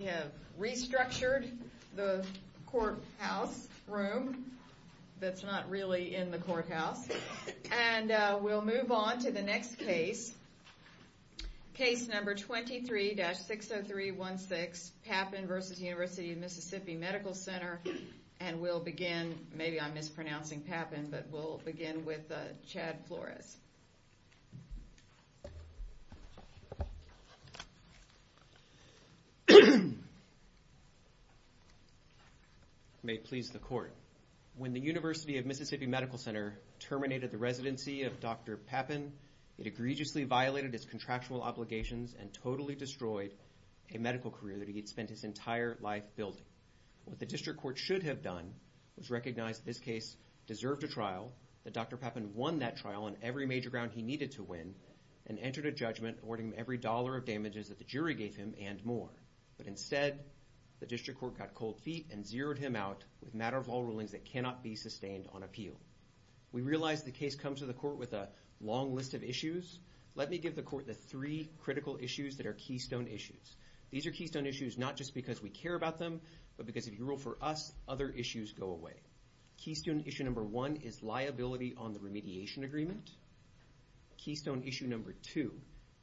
We have restructured the courthouse room that's not really in the courthouse and we'll move on to the next case, case number 23-60316 Papin v. Univ of MS Med Ctr and we'll begin maybe I'm mispronouncing Papin, but we'll begin with Chad Flores. May it please the court, when the University of Mississippi Medical Center terminated the residency of Dr. Papin, it egregiously violated its contractual obligations and totally destroyed a medical career that he had spent his entire life building. What the district court should have done was recognize that this case deserved a trial, that Dr. Papin won that trial on every major ground he needed to win, and entered a judgment awarding him every dollar of damages that the jury gave him and more, but instead the district court got cold feet and zeroed him out with a matter of all rulings that cannot be sustained on appeal. We realize the case comes to the court with a long list of issues. Let me give the court the three critical issues that are keystone issues. These are keystone issues not just because we care about them, but because if you rule for us, other issues go away. Keystone issue number one is liability on the remediation agreement. Keystone issue number two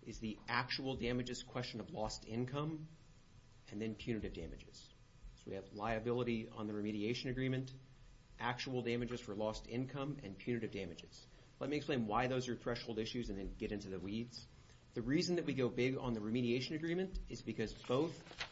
is the actual damages question of lost income and then punitive damages. So we have liability on the remediation agreement, actual damages for lost income, and punitive damages. Let me explain why those are threshold issues and then get into the weeds. The reason that we go big on the remediation agreement is because both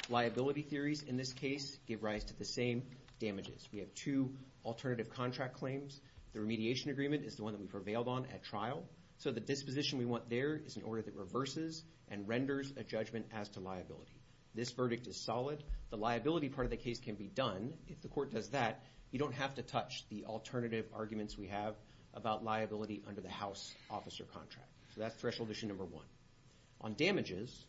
liability theories in this case give rise to the same damages. We have two alternative contract claims. The remediation agreement is the one that we prevailed on at trial, so the disposition we want there is an order that reverses and renders a judgment as to liability. This verdict is solid. The liability part of the case can be done if the court does that. You don't have to touch the alternative arguments we have about liability under the house officer contract. So that's threshold issue number one. On damages,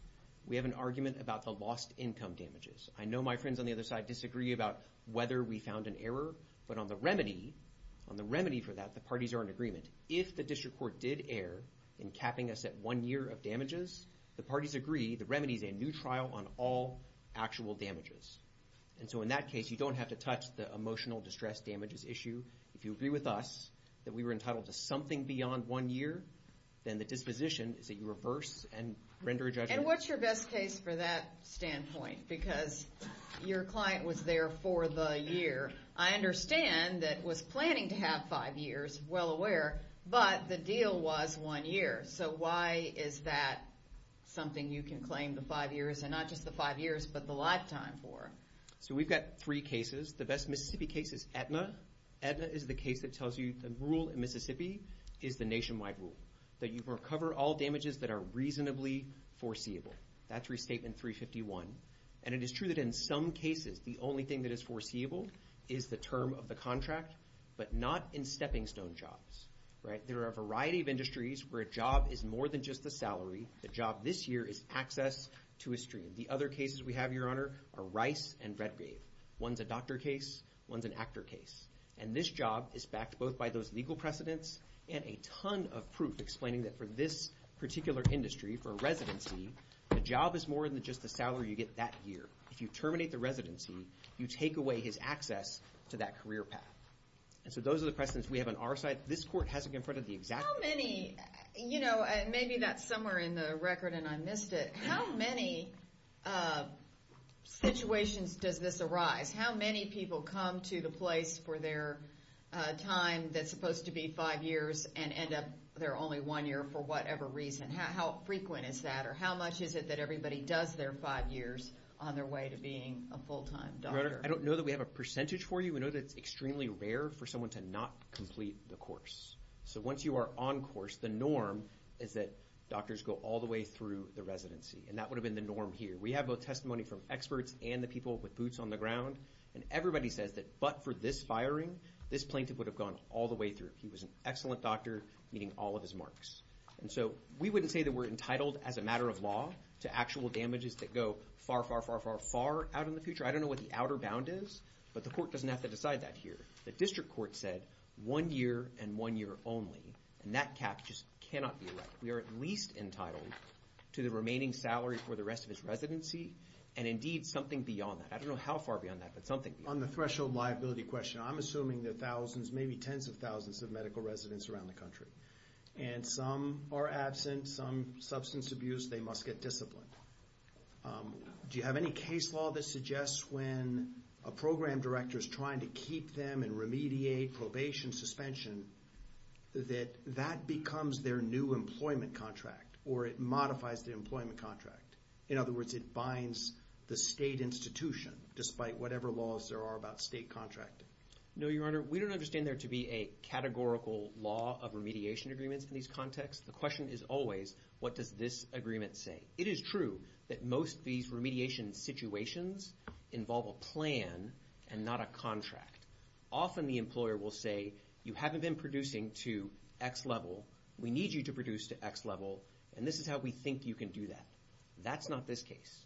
we have an argument about the lost income damages. I know my friends on the other side disagree about whether we found an error, but on the remedy, on the remedy for that, the parties are in agreement. If the district court did err in capping us at one year of damages, the parties agree the remedy is a new trial on all actual damages. And so in that case, you don't have to touch the emotional distress damages issue. If you agree with us that we were entitled to something beyond one year, then the disposition is that you reverse and render a judgment. And what's your best case for that standpoint? Because your client was there for the year. I understand that it was planning to have five years, well aware, but the deal was one year. So why is that something you can claim the five years and not just the five years, but the lifetime for? So we've got three cases. The best Mississippi case is Aetna. Aetna is the case that tells you the rule in Mississippi is the nationwide rule, that you recover all damages that are reasonably foreseeable. That's Restatement 351. And it is true that in some cases, the only thing that is foreseeable is the term of the contract, but not in stepping stone jobs, right? There are a variety of industries where a job is more than just the salary. The job this year is access to a stream. The other cases we have, Your Honor, are Rice and Redgrave. One's a doctor case, one's an actor case. And this job is backed both by those legal precedents and a ton of proof explaining that for this particular industry, for a residency, the job is more than just the salary you get that year. If you terminate the residency, you take away his access to that career path. And so those are the precedents we have on our side. This court hasn't confronted the exact... How many... You know, maybe that's somewhere in the record and I missed it. How many situations does this arise? How many people come to the place for their time that's supposed to be five years and end up there only one year for whatever reason? How frequent is that? Or how much is it that everybody does their five years on their way to being a full-time doctor? Your Honor, I don't know that we have a percentage for you. We know that it's extremely rare for someone to not complete the course. So once you are on course, the norm is that doctors go all the way through the residency. And that would have been the norm here. We have both testimony from experts and the people with boots on the ground. And everybody says that but for this firing, this plaintiff would have gone all the way through. He was an excellent doctor, meeting all of his marks. And so we wouldn't say that we're entitled as a matter of law to actual damages that go far, far, far, far, far out in the future. I don't know what the outer bound is, but the court doesn't have to decide that here. The district court said one year and one year only. And that cap just cannot be erected. We are at least entitled to the remaining salary for the rest of his residency and indeed something beyond that. I don't know how far beyond that, but something beyond that. On the threshold liability question, I'm assuming there are thousands, maybe tens of thousands of medical residents around the country. And some are absent, some substance abuse, they must get disciplined. Do you have any case law that suggests when a program director is trying to keep them and remediate probation suspension that that becomes their new employment contract or it modifies the employment contract? In other words, it binds the state institution despite whatever laws there are about state contracting. No, Your Honor. We don't understand there to be a categorical law of remediation agreements in these contexts. The question is always what does this agreement say? It is true that most of these remediation situations involve a plan and not a contract. Often the employer will say, you haven't been producing to X level, we need you to produce to X level, and this is how we think you can do that. That's not this case.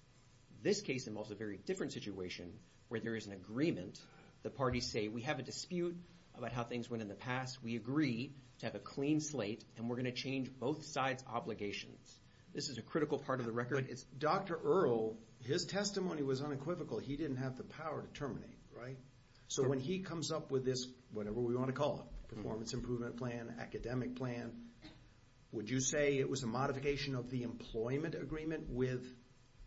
This case involves a very different situation where there is an agreement. The parties say, we have a dispute about how things went in the past. We agree to have a clean slate and we're going to change both sides' obligations. This is a critical part of the record. Dr. Earle, his testimony was unequivocal. He didn't have the power to terminate, right? So when he comes up with this, whatever we want to call it, performance improvement plan, academic plan, would you say it was a modification of the employment agreement with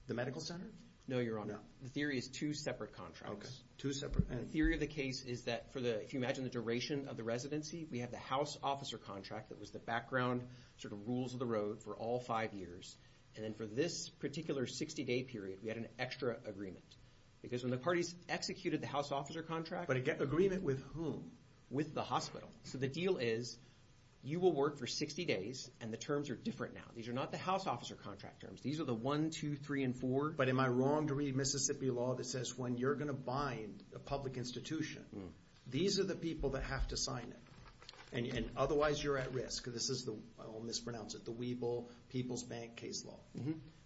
the medical center? No, Your Honor. The theory is two separate contracts. Two separate? The theory of the case is that for the, if you imagine the duration of the residency, we have the house officer contract that was the background sort of rules of the road for all five years. And then for this particular 60-day period, we had an extra agreement. Because when the parties executed the house officer contract. But an agreement with whom? With the hospital. So the deal is, you will work for 60 days and the terms are different now. These are not the house officer contract terms. These are the one, two, three, and four. But am I wrong to read Mississippi law that says when you're going to bind a public institution, these are the people that have to sign it. And otherwise you're at risk. This is the, I will mispronounce it, the Weeble People's Bank case law.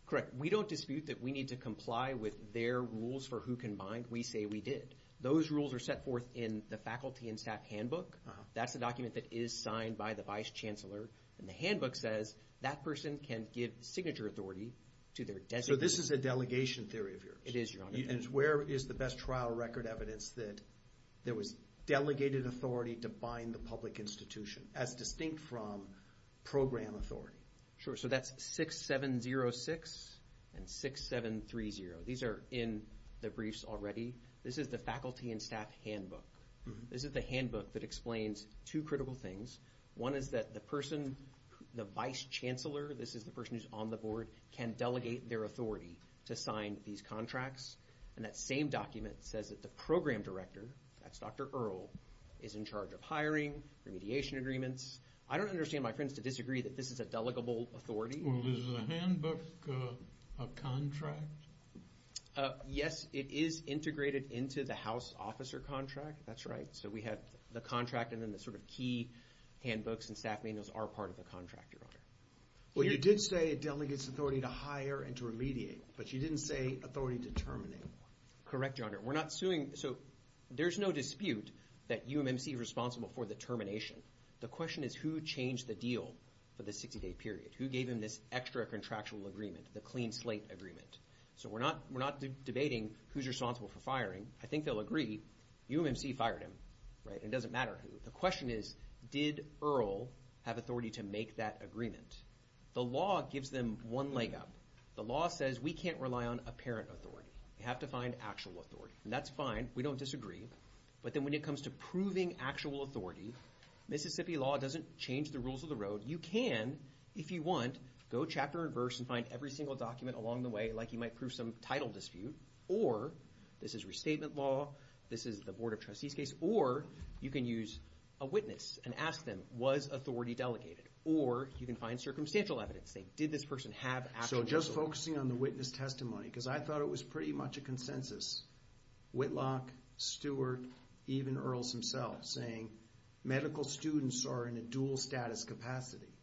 Correct. We don't dispute that we need to comply with their rules for who can bind. We say we did. Those rules are set forth in the faculty and staff handbook. That's a document that is signed by the vice chancellor. And the handbook says that person can give signature authority to their designee. So this is a delegation theory of yours? It is, Your Honor. And where is the best trial record evidence that there was delegated authority to bind the public institution as distinct from program authority? Sure. So that's 6706 and 6730. These are in the briefs already. This is the faculty and staff handbook. This is the handbook that explains two critical things. One is that the person, the vice chancellor, this is the person who's on the board, can delegate their authority to sign these contracts. And that same document says that the program director, that's Dr. Earle, is in charge of signing remediation agreements. I don't understand my friends to disagree that this is a delegable authority. Well, is the handbook a contract? Yes, it is integrated into the house officer contract. That's right. So we have the contract and then the sort of key handbooks and staff manuals are part of the contract, Your Honor. Well, you did say it delegates authority to hire and to remediate, but you didn't say authority to terminate. Correct, Your Honor. We're not suing. So there's no dispute that UMMC is responsible for the termination. The question is who changed the deal for the 60-day period? Who gave him this extra contractual agreement, the clean slate agreement? So we're not debating who's responsible for firing. I think they'll agree, UMMC fired him, right? It doesn't matter who. The question is, did Earle have authority to make that agreement? The law gives them one leg up. The law says we can't rely on apparent authority. We have to find actual authority, and that's fine. We don't disagree. But then when it comes to proving actual authority, Mississippi law doesn't change the rules of the road. You can, if you want, go chapter and verse and find every single document along the way like you might prove some title dispute, or this is restatement law, this is the Board of Trustees case, or you can use a witness and ask them, was authority delegated? Or you can find circumstantial evidence, say, did this person have actual authority? So just focusing on the witness testimony, because I thought it was pretty much a consensus. Whitlock, Stewart, even Earle himself saying, medical students are in a dual status capacity.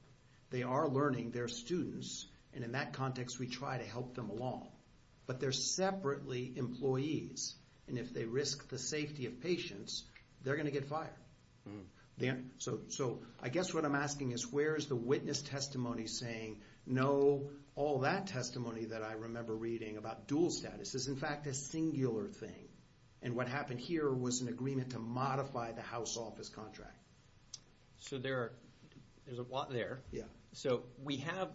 They are learning, they're students, and in that context we try to help them along. But they're separately employees, and if they risk the safety of patients, they're going to get fired. So I guess what I'm asking is, where is the witness testimony saying, no, all that testimony that I remember reading about dual status is in fact a singular thing, and what happened here was an agreement to modify the House office contract. So there's a lot there. So we have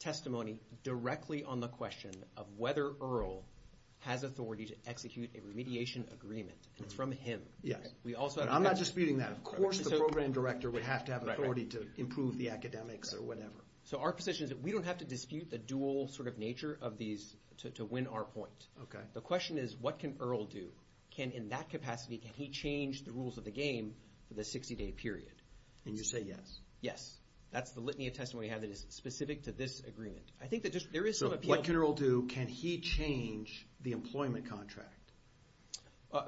testimony directly on the question of whether Earle has authority to execute a remediation agreement, and it's from him. Yes. And I'm not disputing that. Of course the program director would have to have authority to improve the academics or whatever. So our position is that we don't have to dispute the dual sort of nature of these to win our point. The question is, what can Earle do? Can in that capacity, can he change the rules of the game for the 60 day period? And you say yes. Yes. That's the litany of testimony we have that is specific to this agreement. I think that there is some appeal. So what can Earle do? Can he change the employment contract?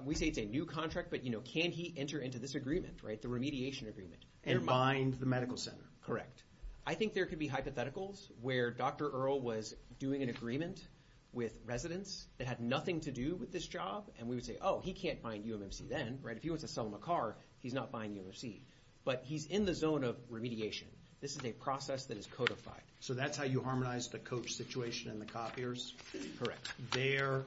We say it's a new contract, but can he enter into this agreement, the remediation agreement? And bind the medical center. Correct. I think there could be hypotheticals where Dr. Earle was doing an agreement with residents that had nothing to do with this job, and we would say, oh, he can't bind UMMC then. If he wants to sell them a car, he's not buying UMMC. But he's in the zone of remediation. This is a process that is codified. So that's how you harmonize the coach situation and the copiers? Correct. There,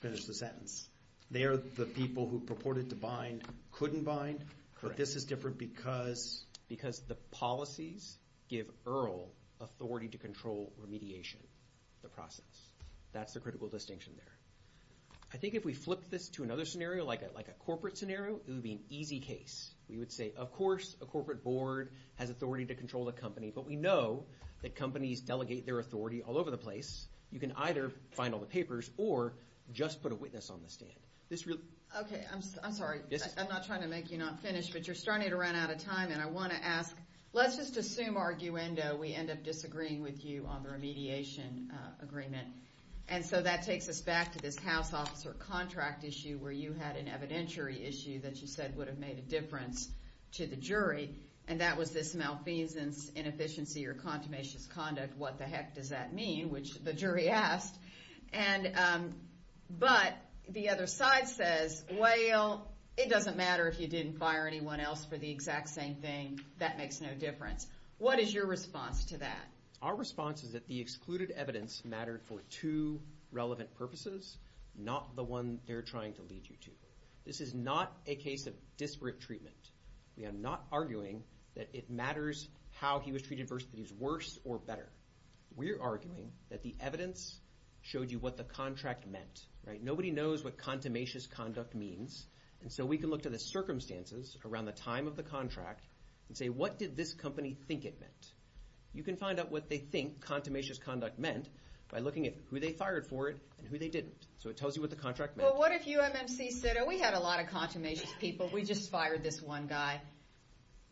finish the sentence, there, the people who purported to bind couldn't bind? Correct. But this is different because? Because the policies give Earle authority to control remediation, the process. That's the critical distinction there. I think if we flip this to another scenario, like a corporate scenario, it would be an easy case. We would say, of course, a corporate board has authority to control the company. But we know that companies delegate their authority all over the place. You can either find all the papers or just put a witness on the stand. This really? Okay. I'm sorry. I'm not trying to make you not finish, but you're starting to run out of time, and I want to ask, let's just assume, arguendo, we end up disagreeing with you on the remediation agreement. And so that takes us back to this house officer contract issue where you had an evidentiary issue that you said would have made a difference to the jury, and that was this malfeasance, inefficiency, or contumacious conduct. What the heck does that mean, which the jury asked? But the other side says, well, it doesn't matter if you didn't fire anyone else for the exact same thing. That makes no difference. What is your response to that? Our response is that the excluded evidence mattered for two relevant purposes, not the one they're trying to lead you to. This is not a case of disparate treatment. We are not arguing that it matters how he was treated versus that he was worse or better. We're arguing that the evidence showed you what the contract meant. Nobody knows what contumacious conduct means, and so we can look to the circumstances around the time of the contract and say, what did this company think it meant? You can find out what they think contumacious conduct meant by looking at who they fired for it and who they didn't. So it tells you what the contract meant. Well, what if you, MMC, said, oh, we had a lot of contumacious people. We just fired this one guy.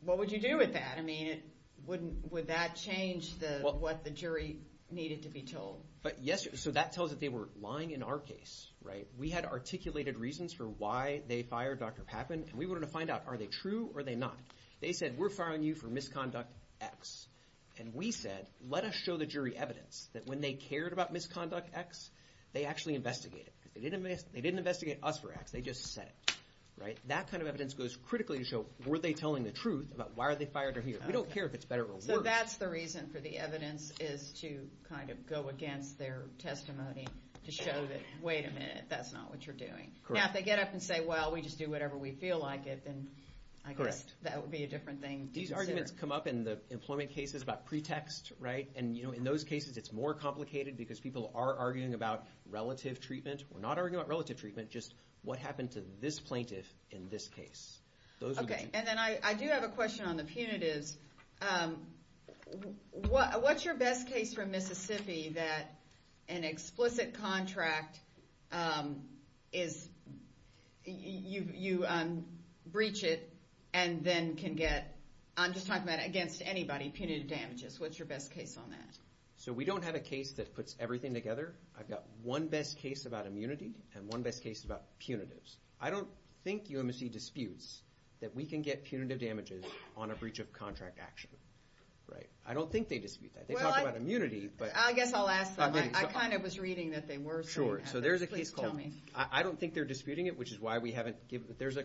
What would you do with that? I mean, would that change what the jury needed to be told? But yes, so that tells that they were lying in our case, right? We had articulated reasons for why they fired Dr. Papin, and we wanted to find out, are they true or are they not? They said, we're firing you for misconduct X, and we said, let us show the jury evidence that when they cared about misconduct X, they actually investigated. They didn't investigate us for X. They just said it, right? And that kind of evidence goes critically to show, were they telling the truth about why are they fired or here? We don't care if it's better or worse. So that's the reason for the evidence is to kind of go against their testimony to show that, wait a minute, that's not what you're doing. Correct. Now, if they get up and say, well, we just do whatever we feel like it, then I guess that would be a different thing to consider. These arguments come up in the employment cases about pretext, right? And in those cases, it's more complicated because people are arguing about relative treatment. We're not arguing about relative treatment, just what happened to this plaintiff in this case. Okay. And then I do have a question on the punitives. What's your best case from Mississippi that an explicit contract is, you breach it and then can get, I'm just talking about against anybody, punitive damages. What's your best case on that? So we don't have a case that puts everything together. I've got one best case about immunity and one best case about punitives. I don't think UMSC disputes that we can get punitive damages on a breach of contract action, right? I don't think they dispute that. They talk about immunity, but- Well, I guess I'll ask them. I kind of was reading that they were saying that. Sure. So there's a case called- Please tell me. I don't think they're disputing it, which is why we haven't given it. There's a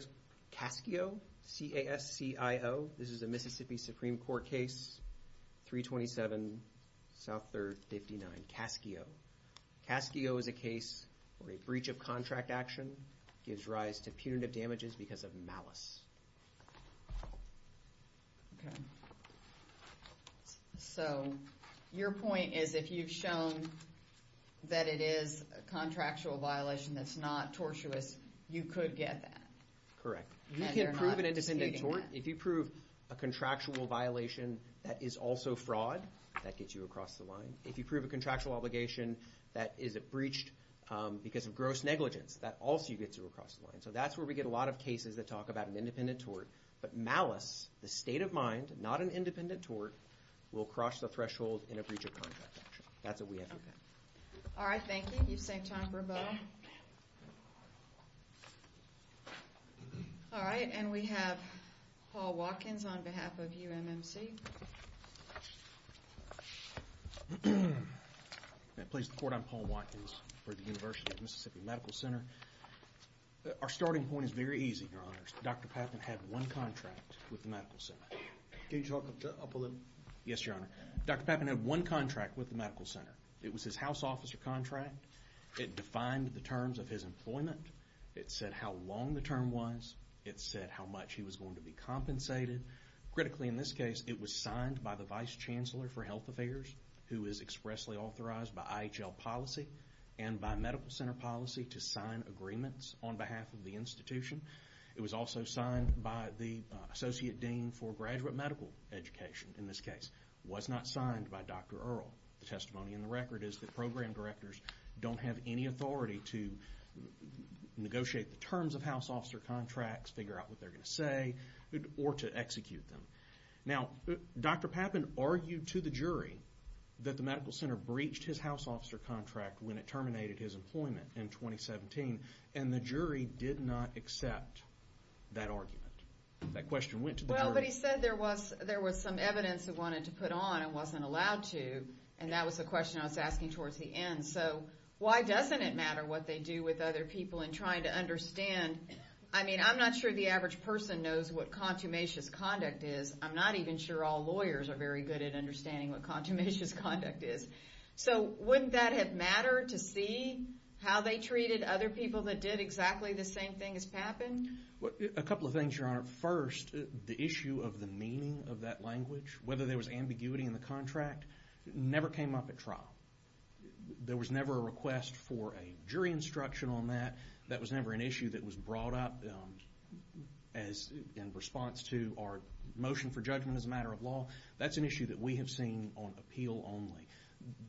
CASCIO, C-A-S-C-I-O, this is a Mississippi Supreme Court case, 327, South 3rd, 59, CASCIO. CASCIO is a case where a breach of contract action gives rise to punitive damages because of malice. Okay. So your point is if you've shown that it is a contractual violation that's not tortuous, you could get that. Correct. And you're not disputing that. You can prove an independent tort. If you prove a contractual violation that is also fraud, that gets you across the line. If you prove a contractual obligation that is breached because of gross negligence, that also gets you across the line. So that's where we get a lot of cases that talk about an independent tort. But malice, the state of mind, not an independent tort, will cross the threshold in a breach of contract action. That's what we have here. Okay. All right. Thank you. You've saved time for Beau. All right. And we have Paul Watkins on behalf of UMMC. I'm Paul Watkins for the University of Mississippi Medical Center. Our starting point is very easy, Your Honors. Dr. Papin had one contract with the Medical Center. Can you talk up a little? Yes, Your Honor. Dr. Papin had one contract with the Medical Center. It was his house officer contract. It defined the terms of his employment. It said how long the term was. It said how much he was going to be compensated. Critically, in this case, it was signed by the Vice Chancellor for Health Affairs, who is expressly authorized by IHL policy and by Medical Center policy to sign agreements on behalf of the institution. It was also signed by the Associate Dean for Graduate Medical Education, in this case. Was not signed by Dr. Earl. The testimony in the record is that program directors don't have any authority to negotiate the terms of house officer contracts, figure out what they're going to say, or to execute them. Now, Dr. Papin argued to the jury that the Medical Center breached his house officer contract when it terminated his employment in 2017. And the jury did not accept that argument. That question went to the jury. Well, but he said there was some evidence he wanted to put on and wasn't allowed to. And that was the question I was asking towards the end. So, why doesn't it matter what they do with other people in trying to understand? I mean, I'm not sure the average person knows what consummation conduct is. I'm not even sure all lawyers are very good at understanding what consummation conduct is. So, wouldn't that have mattered to see how they treated other people that did exactly the same thing as Papin? A couple of things, Your Honor. First, the issue of the meaning of that language, whether there was ambiguity in the contract, never came up at trial. There was never a request for a jury instruction on that. That was never an issue that was brought up in response to our motion for judgment as a matter of law. That's an issue that we have seen on appeal only.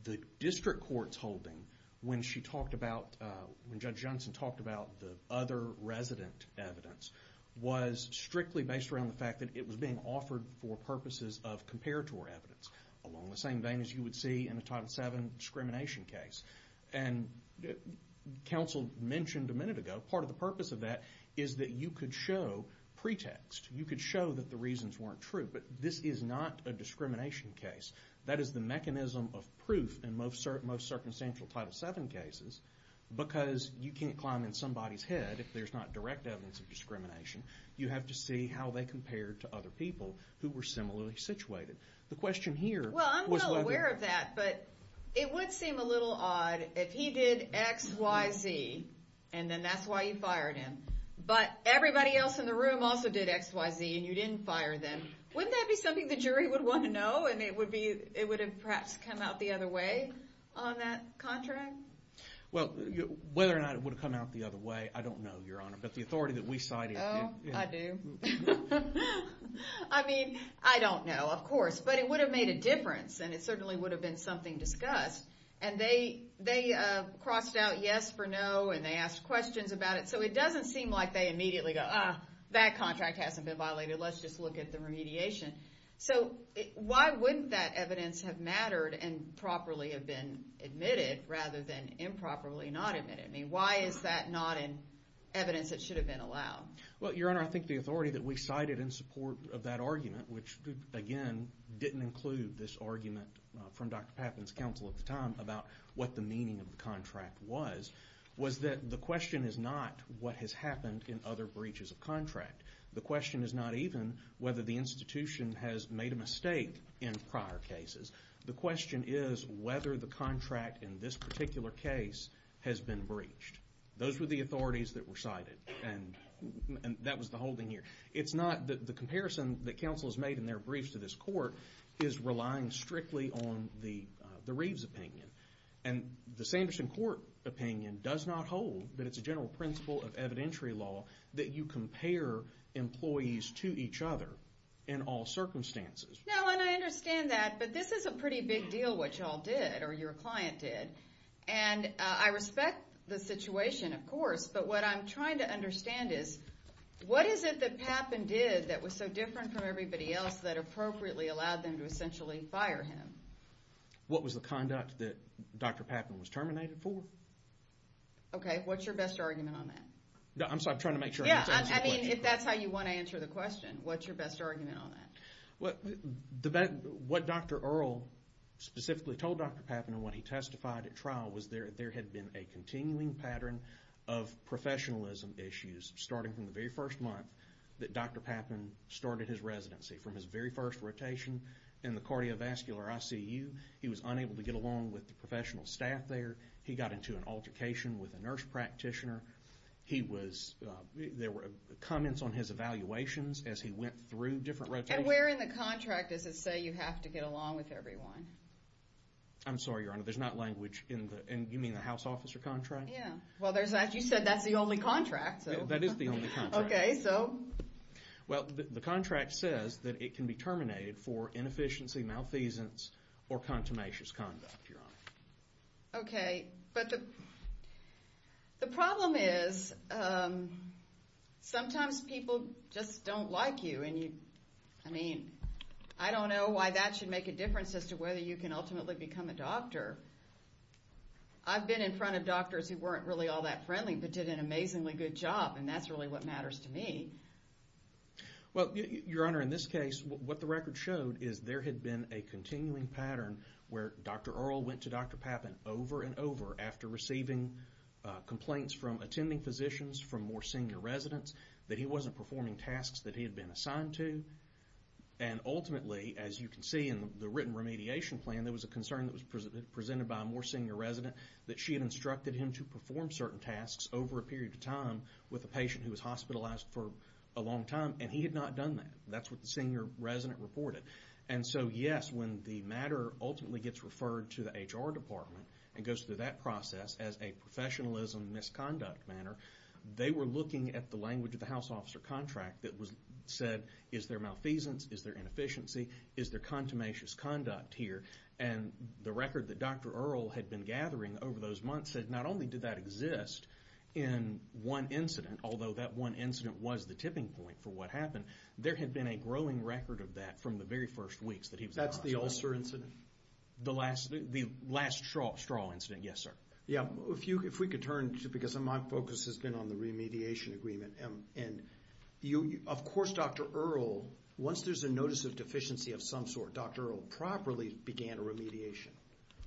The district court's holding when Judge Johnson talked about the other resident evidence was strictly based around the fact that it was being offered for purposes of comparator evidence along the same vein as you would see in a Title VII discrimination case. And counsel mentioned a minute ago, part of the purpose of that is that you could show pretext. You could show that the reasons weren't true, but this is not a discrimination case. That is the mechanism of proof in most circumstantial Title VII cases because you can't climb in somebody's head if there's not direct evidence of discrimination. You have to see how they compared to other people who were similarly situated. The question here was whether- Well, I'm well aware of that, but it would seem a little odd if he did X, Y, Z, and then that's why you fired him, but everybody else in the room also did X, Y, Z, and you didn't fire them. Wouldn't that be something the jury would want to know and it would have perhaps come out the other way on that contract? Well, whether or not it would have come out the other way, I don't know, Your Honor, but the authority that we cited- Oh, I do. I mean, I don't know, of course, but it would have made a difference and it certainly would have been something discussed. They crossed out yes for no and they asked questions about it, so it doesn't seem like they immediately go, ah, that contract hasn't been violated, let's just look at the remediation. Why wouldn't that evidence have mattered and properly have been admitted rather than improperly not admitted? I mean, why is that not in evidence that should have been allowed? Well, Your Honor, I think the authority that we cited in support of that argument, which again, didn't include this argument from Dr. Pappin's counsel at the time about what the meaning of the contract was, was that the question is not what has happened in other breaches of contract. The question is not even whether the institution has made a mistake in prior cases. The question is whether the contract in this particular case has been breached. Those were the authorities that were cited and that was the holding here. It's not that the comparison that counsel has made in their briefs to this court is relying strictly on the Reeves opinion and the Sanderson Court opinion does not hold that it's a general principle of evidentiary law that you compare employees to each other in all circumstances. Now, and I understand that, but this is a pretty big deal what y'all did or your client did and I respect the situation, of course, but what I'm trying to understand is what is it that Pappin did that was so different from everybody else that appropriately allowed them to essentially fire him? What was the conduct that Dr. Pappin was terminated for? Okay, what's your best argument on that? I'm sorry, I'm trying to make sure I'm answering the question. Yeah, I mean, if that's how you want to answer the question, what's your best argument on that? What Dr. Earle specifically told Dr. Pappin when he testified at trial was there had been a continuing pattern of professionalism issues starting from the very first month that Dr. Pappin started his residency. From his very first rotation in the cardiovascular ICU, he was unable to get along with the professional staff there. He got into an altercation with a nurse practitioner. He was, there were comments on his evaluations as he went through different rotations. And where in the contract does it say you have to get along with everyone? I'm sorry, Your Honor, there's not language in the, and you mean the house officer contract? Yeah, well there's, you said that's the only contract, so. That is the only contract. Okay, so? Well, the contract says that it can be terminated for inefficiency, malfeasance, or contumacious conduct, Your Honor. Okay, but the problem is sometimes people just don't like you and you, I mean, I don't know why that should make a difference as to whether you can ultimately become a doctor. I've been in front of doctors who weren't really all that friendly, but did an amazingly good job, and that's really what matters to me. Well, Your Honor, in this case, what the record showed is there had been a continuing pattern where Dr. Earle went to Dr. Pappin over and over after receiving complaints from attending physicians from more senior residents that he wasn't performing tasks that he had been assigned to, and ultimately, as you can see in the written remediation plan, there was a concern that was presented by a more senior resident that she had instructed him to perform certain tasks over a period of time with a patient who was hospitalized for a long time, and he had not done that. That's what the senior resident reported. And so, yes, when the matter ultimately gets referred to the HR department and goes through that process as a professionalism misconduct matter, they were looking at the language of the house officer contract that said, is there malfeasance, is there inefficiency, is there contumacious conduct here? And the record that Dr. Earle had been gathering over those months said not only did that exist in one incident, although that one incident was the tipping point for what happened, there had been a growing record of that from the very first weeks that he was in the hospital. That's the ulcer incident? The last, the last straw incident, yes, sir. Yeah, if you, if we could turn to, because my focus has been on the remediation agreement, and you, of course, Dr. Earle, once there's a notice of deficiency of some sort, Dr. Earle properly began a remediation.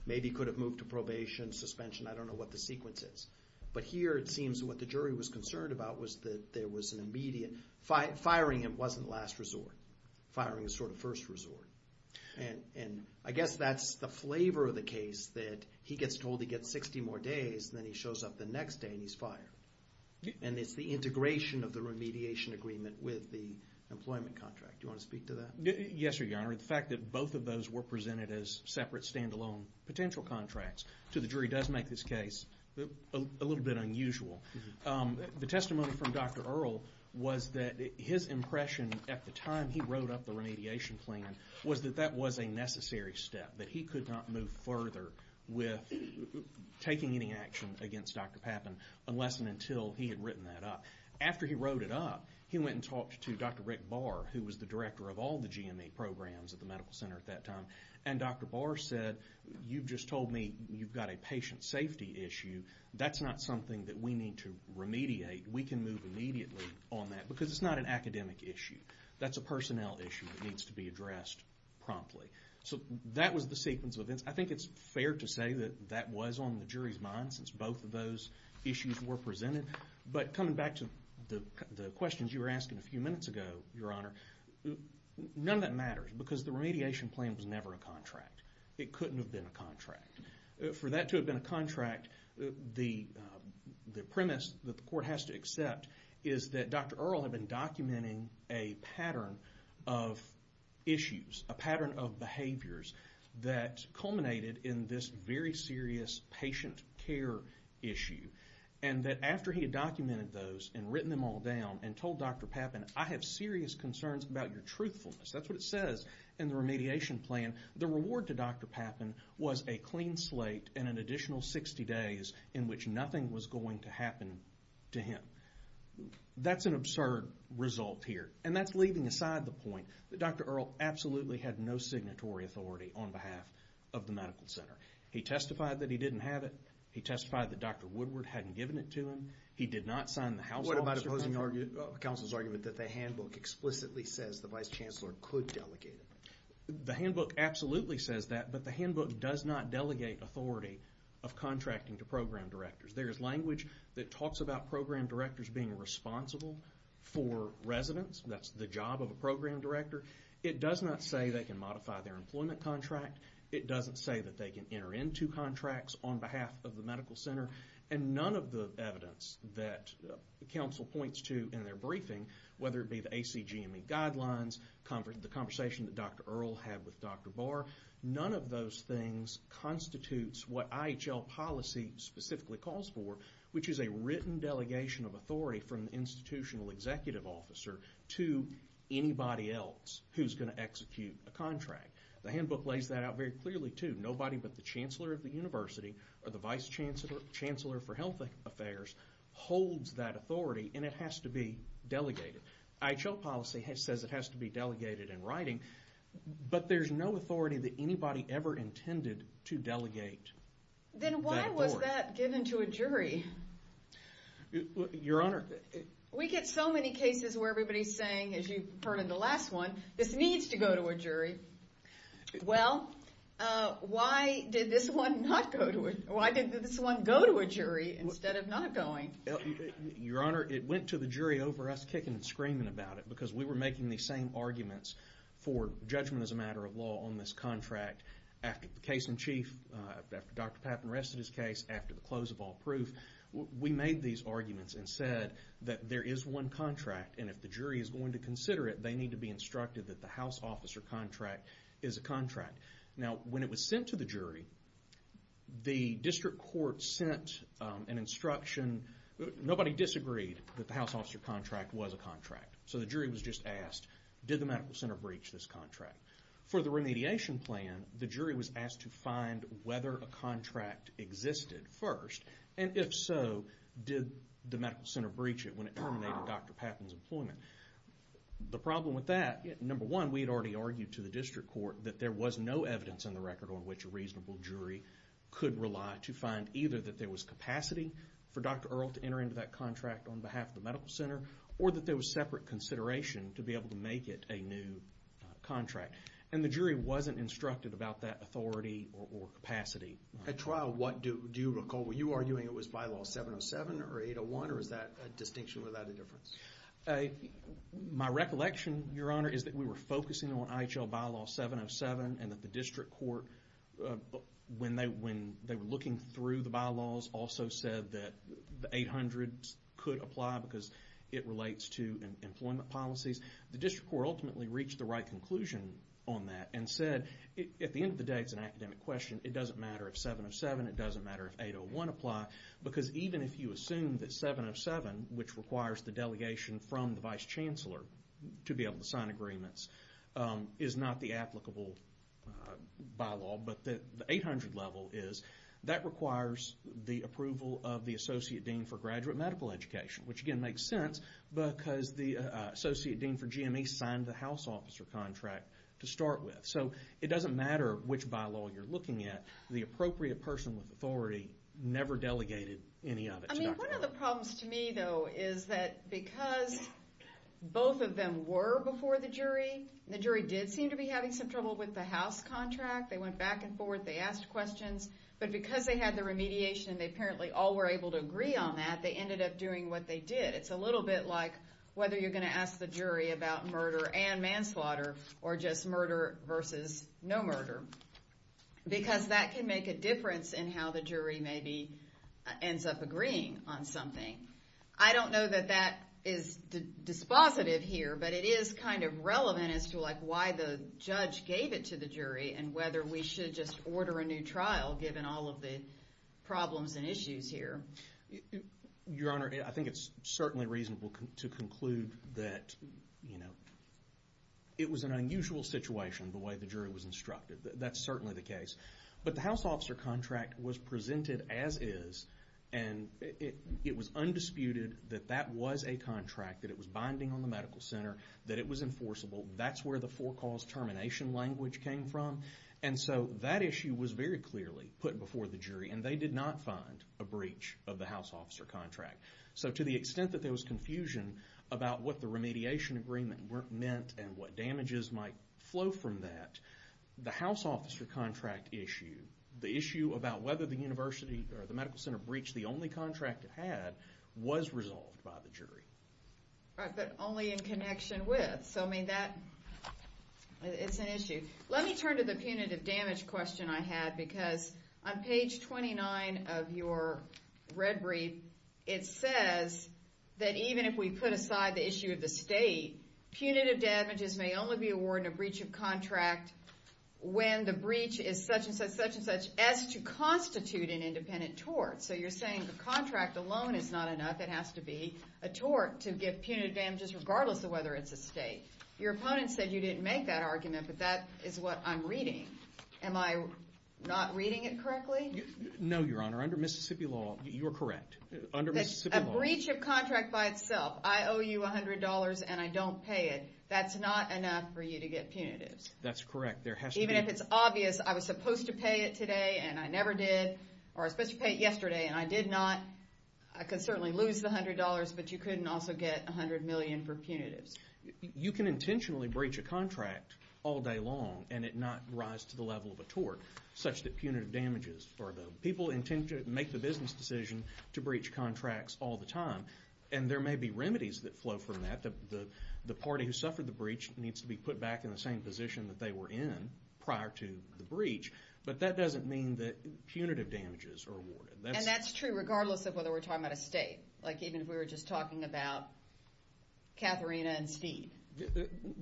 Maybe could have moved to probation, suspension, I don't know what the sequence is. But here, it seems what the jury was concerned about was that there was an immediate, firing him wasn't last resort. Firing is sort of first resort. And I guess that's the flavor of the case, that he gets told he gets 60 more days, then he shows up the next day and he's fired. And it's the integration of the remediation agreement with the employment contract. Do you want to speak to that? Yes, sir, your honor. The fact that both of those were presented as separate, stand-alone potential contracts to the jury does make this case a little bit unusual. The testimony from Dr. Earle was that his impression at the time he wrote up the remediation plan was that that was a necessary step, that he could not move further with taking any action against Dr. Pappin unless and until he had written that up. After he wrote it up, he went and talked to Dr. Rick Barr, who was the director of all the GMA programs at the medical center at that time. And Dr. Barr said, you've just told me you've got a patient safety issue. That's not something that we need to remediate. We can move immediately on that because it's not an academic issue. That's a personnel issue that needs to be addressed promptly. So that was the sequence of events. I think it's fair to say that that was on the jury's mind since both of those issues were presented. But coming back to the questions you were asking a few minutes ago, your honor, none of that matters because the remediation plan was never a contract. It couldn't have been a contract. For that to have been a contract, the premise that the court has to accept is that Dr. Earle had been documenting a pattern of issues, a pattern of behaviors that culminated in this very serious patient care issue. And that after he had documented those and written them all down and told Dr. Pappin, I have serious concerns about your truthfulness, that's what it says in the remediation plan, the reward to Dr. Pappin was a clean slate and an additional 60 days in which nothing was going to happen to him. That's an absurd result here. And that's leaving aside the point that Dr. Earle absolutely had no signatory authority on behalf of the medical center. He testified that he didn't have it. He testified that Dr. Woodward hadn't given it to him. He did not sign the house officer pamphlet. What about opposing counsel's argument that the handbook explicitly says the vice chancellor could delegate it? The handbook absolutely says that, but the handbook does not delegate authority of contracting to program directors. There is language that talks about program directors being responsible for residents. That's the job of a program director. It does not say they can modify their employment contract. It doesn't say that they can enter into contracts on behalf of the medical center. And none of the evidence that counsel points to in their briefing, whether it be the ACGME guidelines, the conversation that Dr. Earle had with Dr. Barr, none of those things constitutes what IHL policy specifically calls for, which is a written delegation of authority from the institutional executive officer to anybody else who's going to execute a contract. The handbook lays that out very clearly, too. Nobody but the chancellor of the university or the vice chancellor for health affairs holds that authority, and it has to be delegated. IHL policy says it has to be delegated in writing, but there's no authority that anybody ever intended to delegate that authority. Then why was that given to a jury? Your Honor. We get so many cases where everybody's saying, as you've heard in the last one, this needs to go to a jury. Well, why did this one not go to a jury? Why did this one go to a jury instead of not going? Your Honor, it went to the jury over us kicking and screaming about it, because we were making these same arguments for judgment as a matter of law on this contract after the case in chief, after Dr. Pappin rested his case, after the close of all proof. We made these arguments and said that there is one contract, and if the jury is going to consider it, they need to be instructed that the house officer contract is a contract. Now, when it was sent to the jury, the district court sent an instruction. Nobody disagreed that the house officer contract was a contract, so the jury was just asked, did the medical center breach this contract? For the remediation plan, the jury was asked to find whether a contract existed first, and if so, did the medical center breach it when it terminated Dr. Pappin's employment? The problem with that, number one, we had already argued to the district court that there was no evidence in the record on which a reasonable jury could rely to find either that there was capacity for Dr. Earle to enter into that contract on behalf of the medical center, or that there was separate consideration to be able to make it a new contract. And the jury wasn't instructed about that authority or capacity. At trial, do you recall, were you arguing it was bylaw 707 or 801, or is that a distinction without a difference? My recollection, Your Honor, is that we were focusing on IHL bylaw 707, and that the district court, when they were looking through the bylaws, also said that the 800 could apply because it relates to employment policies. The district court ultimately reached the right conclusion on that and said, at the end of the day, it's an academic question, it doesn't matter if 707, it doesn't matter if 801 apply, because even if you assume that 707, which requires the delegation from the vice chancellor to be able to sign agreements, is not the applicable bylaw, but the 800 level is, that requires the approval of the associate dean for graduate medical education, which again makes sense because the associate dean for GME signed the house officer contract to start with. So it doesn't matter which bylaw you're looking at. The appropriate person with authority never delegated any of it to Dr. Merrill. I mean, one of the problems to me, though, is that because both of them were before the jury, the jury did seem to be having some trouble with the house contract, they went back and forth, they asked questions, but because they had the remediation, they apparently all were able to agree on that, they ended up doing what they did. It's a little bit like whether you're going to ask the jury about murder and manslaughter, or just murder versus no murder, because that can make a difference in how the jury maybe ends up agreeing on something. I don't know that that is dispositive here, but it is kind of relevant as to why the judge gave it to the jury and whether we should just order a new trial, given all of the problems and issues here. Your Honor, I think it's certainly reasonable to conclude that, you know, it was an unusual situation the way the jury was instructed. That's certainly the case. But the house officer contract was presented as is, and it was undisputed that that was a contract, that it was binding on the medical center, that it was enforceable. That's where the four cause termination language came from. And so that issue was very clearly put before the jury, and they did not find a breach of the house officer contract. So to the extent that there was confusion about what the remediation agreement meant and what damages might flow from that, the house officer contract issue, the issue about whether the university or the medical center breached the only contract it had, was resolved by the jury. All right, but only in connection with. So I mean that, it's an issue. Let me turn to the punitive damage question I had, because on page 29 of your red brief, it says that even if we put aside the issue of the state, punitive damages may only be awarded in a breach of contract when the breach is such and such, such and such, as to constitute an independent tort. So you're saying the contract alone is not enough. It has to be a tort to give punitive damages, regardless of whether it's a state. Your opponent said you didn't make that argument, but that is what I'm reading. Am I not reading it correctly? No, Your Honor. Under Mississippi law, you're correct. Under Mississippi law. A breach of contract by itself, I owe you $100, and I don't pay it. That's not enough for you to get punitives. That's correct. There has to be. Even if it's obvious, I was supposed to pay it today, and I never did, or I was supposed to pay it yesterday, and I did not, I could certainly lose the $100, but you couldn't also get $100 million for punitives. You can intentionally breach a contract all day long, and it not rise to the level of a tort, such that punitive damages, or the people intend to make the business decision to breach contracts all the time, and there may be remedies that flow from that. The party who suffered the breach needs to be put back in the same position that they were in prior to the breach, but that doesn't mean that punitive damages are awarded. And that's true, regardless of whether we're talking about a state. Like even if we were just talking about Katharina and Steve.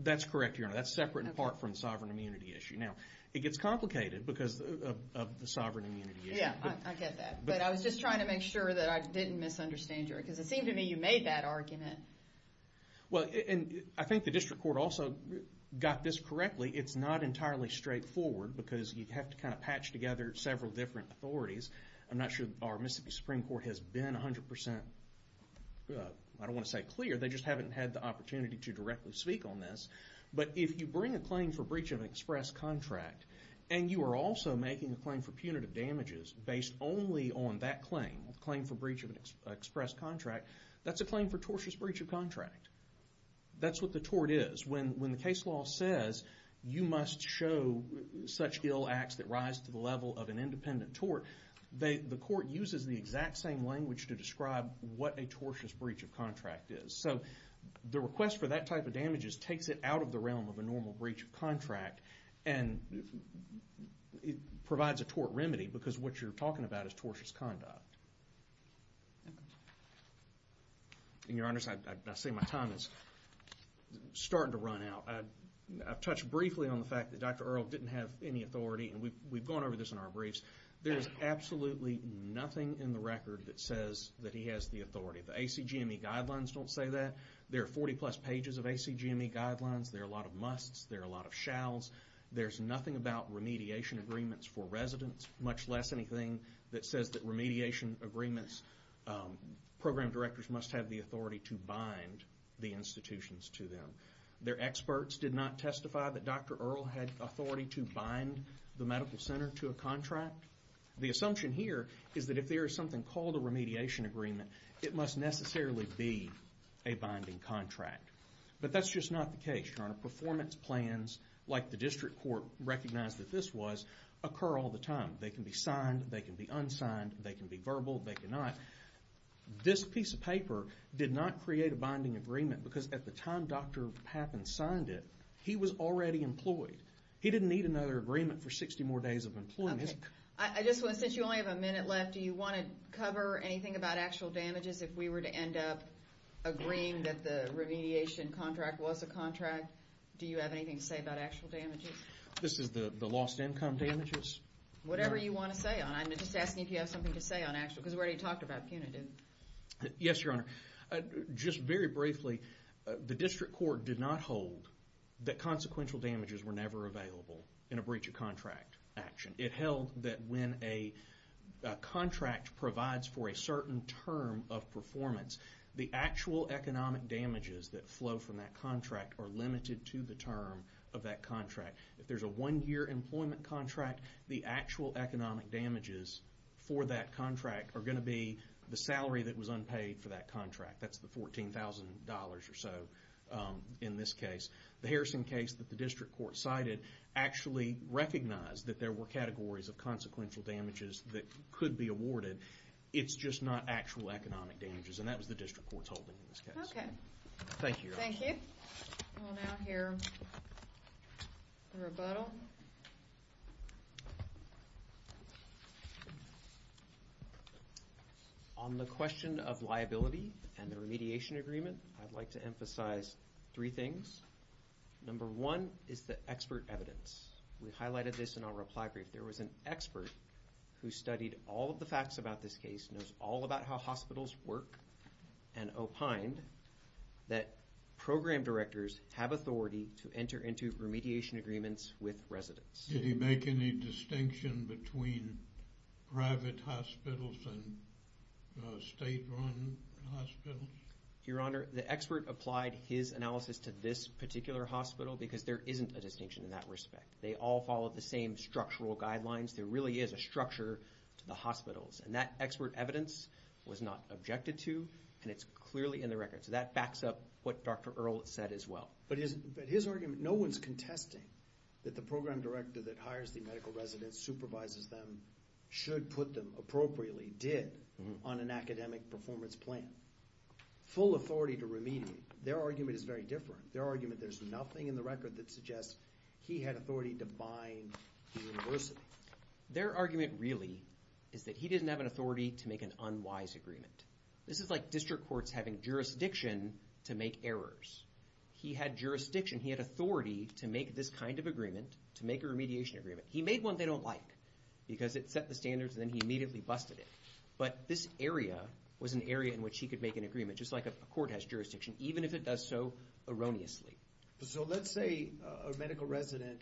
That's correct, Your Honor. That's separate, in part, from the sovereign immunity issue. Now, it gets complicated, because of the sovereign immunity issue. Yeah, I get that. But I was just trying to make sure that I didn't misunderstand you, because it seemed to me you made that argument. Well, and I think the district court also got this correctly. It's not entirely straightforward, because you have to kind of patch together several different authorities. I'm not sure our Mississippi Supreme Court has been 100% clear. They just haven't had the opportunity to directly speak on this. But if you bring a claim for breach of an express contract, and you are also making a claim for punitive damages based only on that claim, a claim for breach of an express contract, that's a claim for tortious breach of contract. That's what the tort is. When the case law says you must show such ill acts that rise to the level of an independent tort, the court uses the exact same language to describe what a tortious breach of contract is. So the request for that type of damages takes it out of the realm of a normal breach of contract, and it provides a tort remedy, because what you're talking about is tortious conduct. And, Your Honors, I see my time is starting to run out. I've touched briefly on the fact that Dr. Earle didn't have any authority, and we've There is absolutely nothing in the record that says that he has the authority. The ACGME guidelines don't say that. There are 40 plus pages of ACGME guidelines. There are a lot of musts. There are a lot of shalls. There's nothing about remediation agreements for residents, much less anything that says that remediation agreements, program directors must have the authority to bind the institutions to them. Their experts did not testify that Dr. Earle had authority to bind the medical center to a contract. The assumption here is that if there is something called a remediation agreement, it must necessarily be a binding contract. But that's just not the case, Your Honor. Performance plans, like the district court recognized that this was, occur all the time. They can be signed. They can be unsigned. They can be verbal. They cannot. This piece of paper did not create a binding agreement, because at the time Dr. Pappin signed it, he was already employed. He didn't need another agreement for 60 more days of employment. I just want to, since you only have a minute left, do you want to cover anything about actual damages? If we were to end up agreeing that the remediation contract was a contract, do you have anything to say about actual damages? This is the lost income damages? Whatever you want to say on it. I'm just asking if you have something to say on actual, because we already talked about punitive. Yes, Your Honor. Just very briefly, the district court did not hold that consequential damages were never available in a breach of contract action. It held that when a contract provides for a certain term of performance, the actual economic damages that flow from that contract are limited to the term of that contract. If there's a one-year employment contract, the actual economic damages for that contract are going to be the salary that was unpaid for that contract. That's the $14,000 or so in this case. The Harrison case that the district court cited actually recognized that there were categories of consequential damages that could be awarded. It's just not actual economic damages, and that was the district court's holding in this case. Okay. Thank you, Your Honor. Thank you. We'll now hear the rebuttal. On the question of liability and the remediation agreement, I'd like to emphasize three things. Number one is the expert evidence. We highlighted this in our reply brief. There was an expert who studied all of the facts about this case, knows all about how have authority to enter into remediation agreements with residents. Did he make any distinction between private hospitals and state-run hospitals? Your Honor, the expert applied his analysis to this particular hospital because there isn't a distinction in that respect. They all follow the same structural guidelines. There really is a structure to the hospitals. That expert evidence was not objected to, and it's clearly in the record. So that backs up what Dr. Earle said as well. But his argument, no one's contesting that the program director that hires the medical residents, supervises them, should put them appropriately, did, on an academic performance plan. Full authority to remediate. Their argument is very different. Their argument, there's nothing in the record that suggests he had authority to bind the university. Their argument really is that he didn't have an authority to make an unwise agreement. This is like district courts having jurisdiction to make errors. He had jurisdiction. He had authority to make this kind of agreement, to make a remediation agreement. He made one they don't like because it set the standards, and then he immediately busted it. But this area was an area in which he could make an agreement, just like a court has jurisdiction, even if it does so erroneously. So let's say a medical resident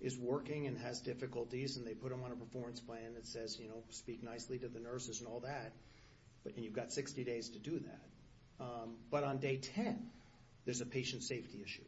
is working and has difficulties, and they put them on a performance plan that says, you know, speak nicely to the nurses and all that. And you've got 60 days to do that. But on day 10, there's a patient safety issue.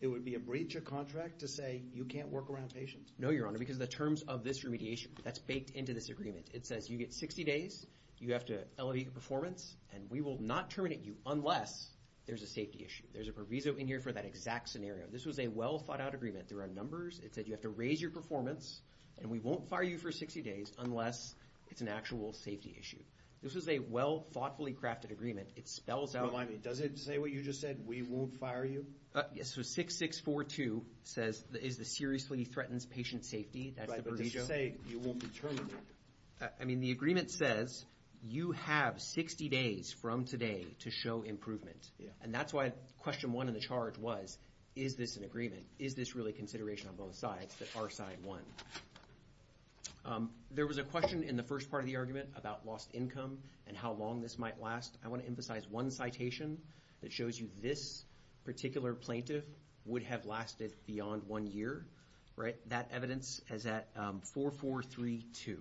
It would be a breach of contract to say, you can't work around patients. No, Your Honor, because the terms of this remediation, that's baked into this agreement. It says, you get 60 days. You have to elevate your performance, and we will not terminate you unless there's a safety issue. There's a proviso in here for that exact scenario. This was a well-thought-out agreement. There are numbers. It said, you have to raise your performance, and we won't fire you for 60 days unless it's an actual safety issue. This was a well-thoughtfully crafted agreement. It spells out- Well, I mean, does it say what you just said? We won't fire you? Yes. So 6-6-4-2 says, is the seriously threatens patient safety. That's the proviso. Right. But does it say, you won't be terminated? I mean, the agreement says, you have 60 days from today to show improvement. And that's why question one in the charge was, is this an agreement? Is this really consideration on both sides that are side one? There was a question in the first part of the argument about lost income and how long this might last. I want to emphasize one citation that shows you this particular plaintiff would have lasted beyond one year. That evidence is at 4-4-3-2.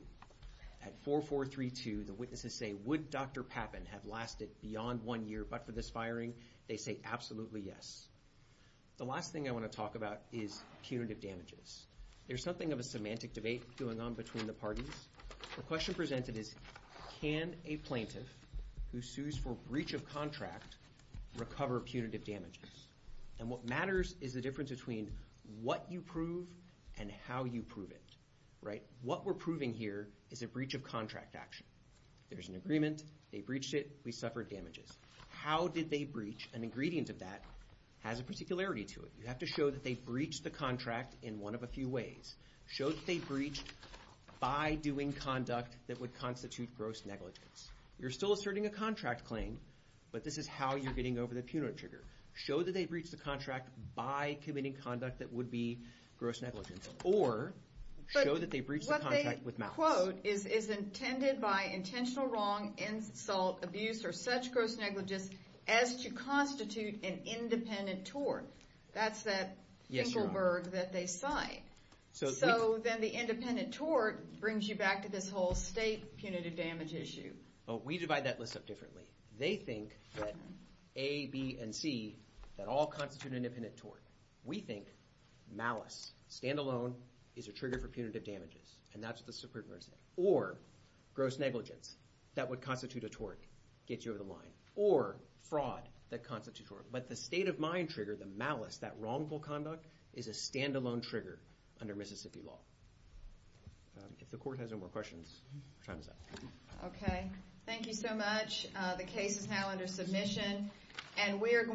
At 4-4-3-2, the witnesses say, would Dr. Pappin have lasted beyond one year but for this firing? They say, absolutely yes. The last thing I want to talk about is punitive damages. There's something of a semantic debate going on between the parties. The question presented is, can a plaintiff who sues for breach of contract recover punitive damages? And what matters is the difference between what you prove and how you prove it. Right. What we're proving here is a breach of contract action. There's an agreement. They breached it. We suffered damages. How did they breach? An ingredient of that has a particularity to it. You have to show that they breached the contract in one of a few ways. Show that they breached by doing conduct that would constitute gross negligence. You're still asserting a contract claim, but this is how you're getting over the punitive trigger. Show that they breached the contract by committing conduct that would be gross negligence. Or show that they breached the contract with malice. But what they quote is intended by intentional wrong, insult, abuse, or such gross negligence as to constitute an independent tort. That's that Ingleberg that they cite. So then the independent tort brings you back to this whole state punitive damage issue. We divide that list up differently. They think that A, B, and C, that all constitute an independent tort. We think malice, standalone, is a trigger for punitive damages. And that's what the Supreme Court said. Or gross negligence, that would constitute a tort, gets you over the line. Or fraud, that constitutes a tort. But the state of mind trigger, the malice, that wrongful conduct, is a standalone trigger under Mississippi law. If the court has no more questions, time is up. Okay. Thank you so much. The case is now under submission. And we're going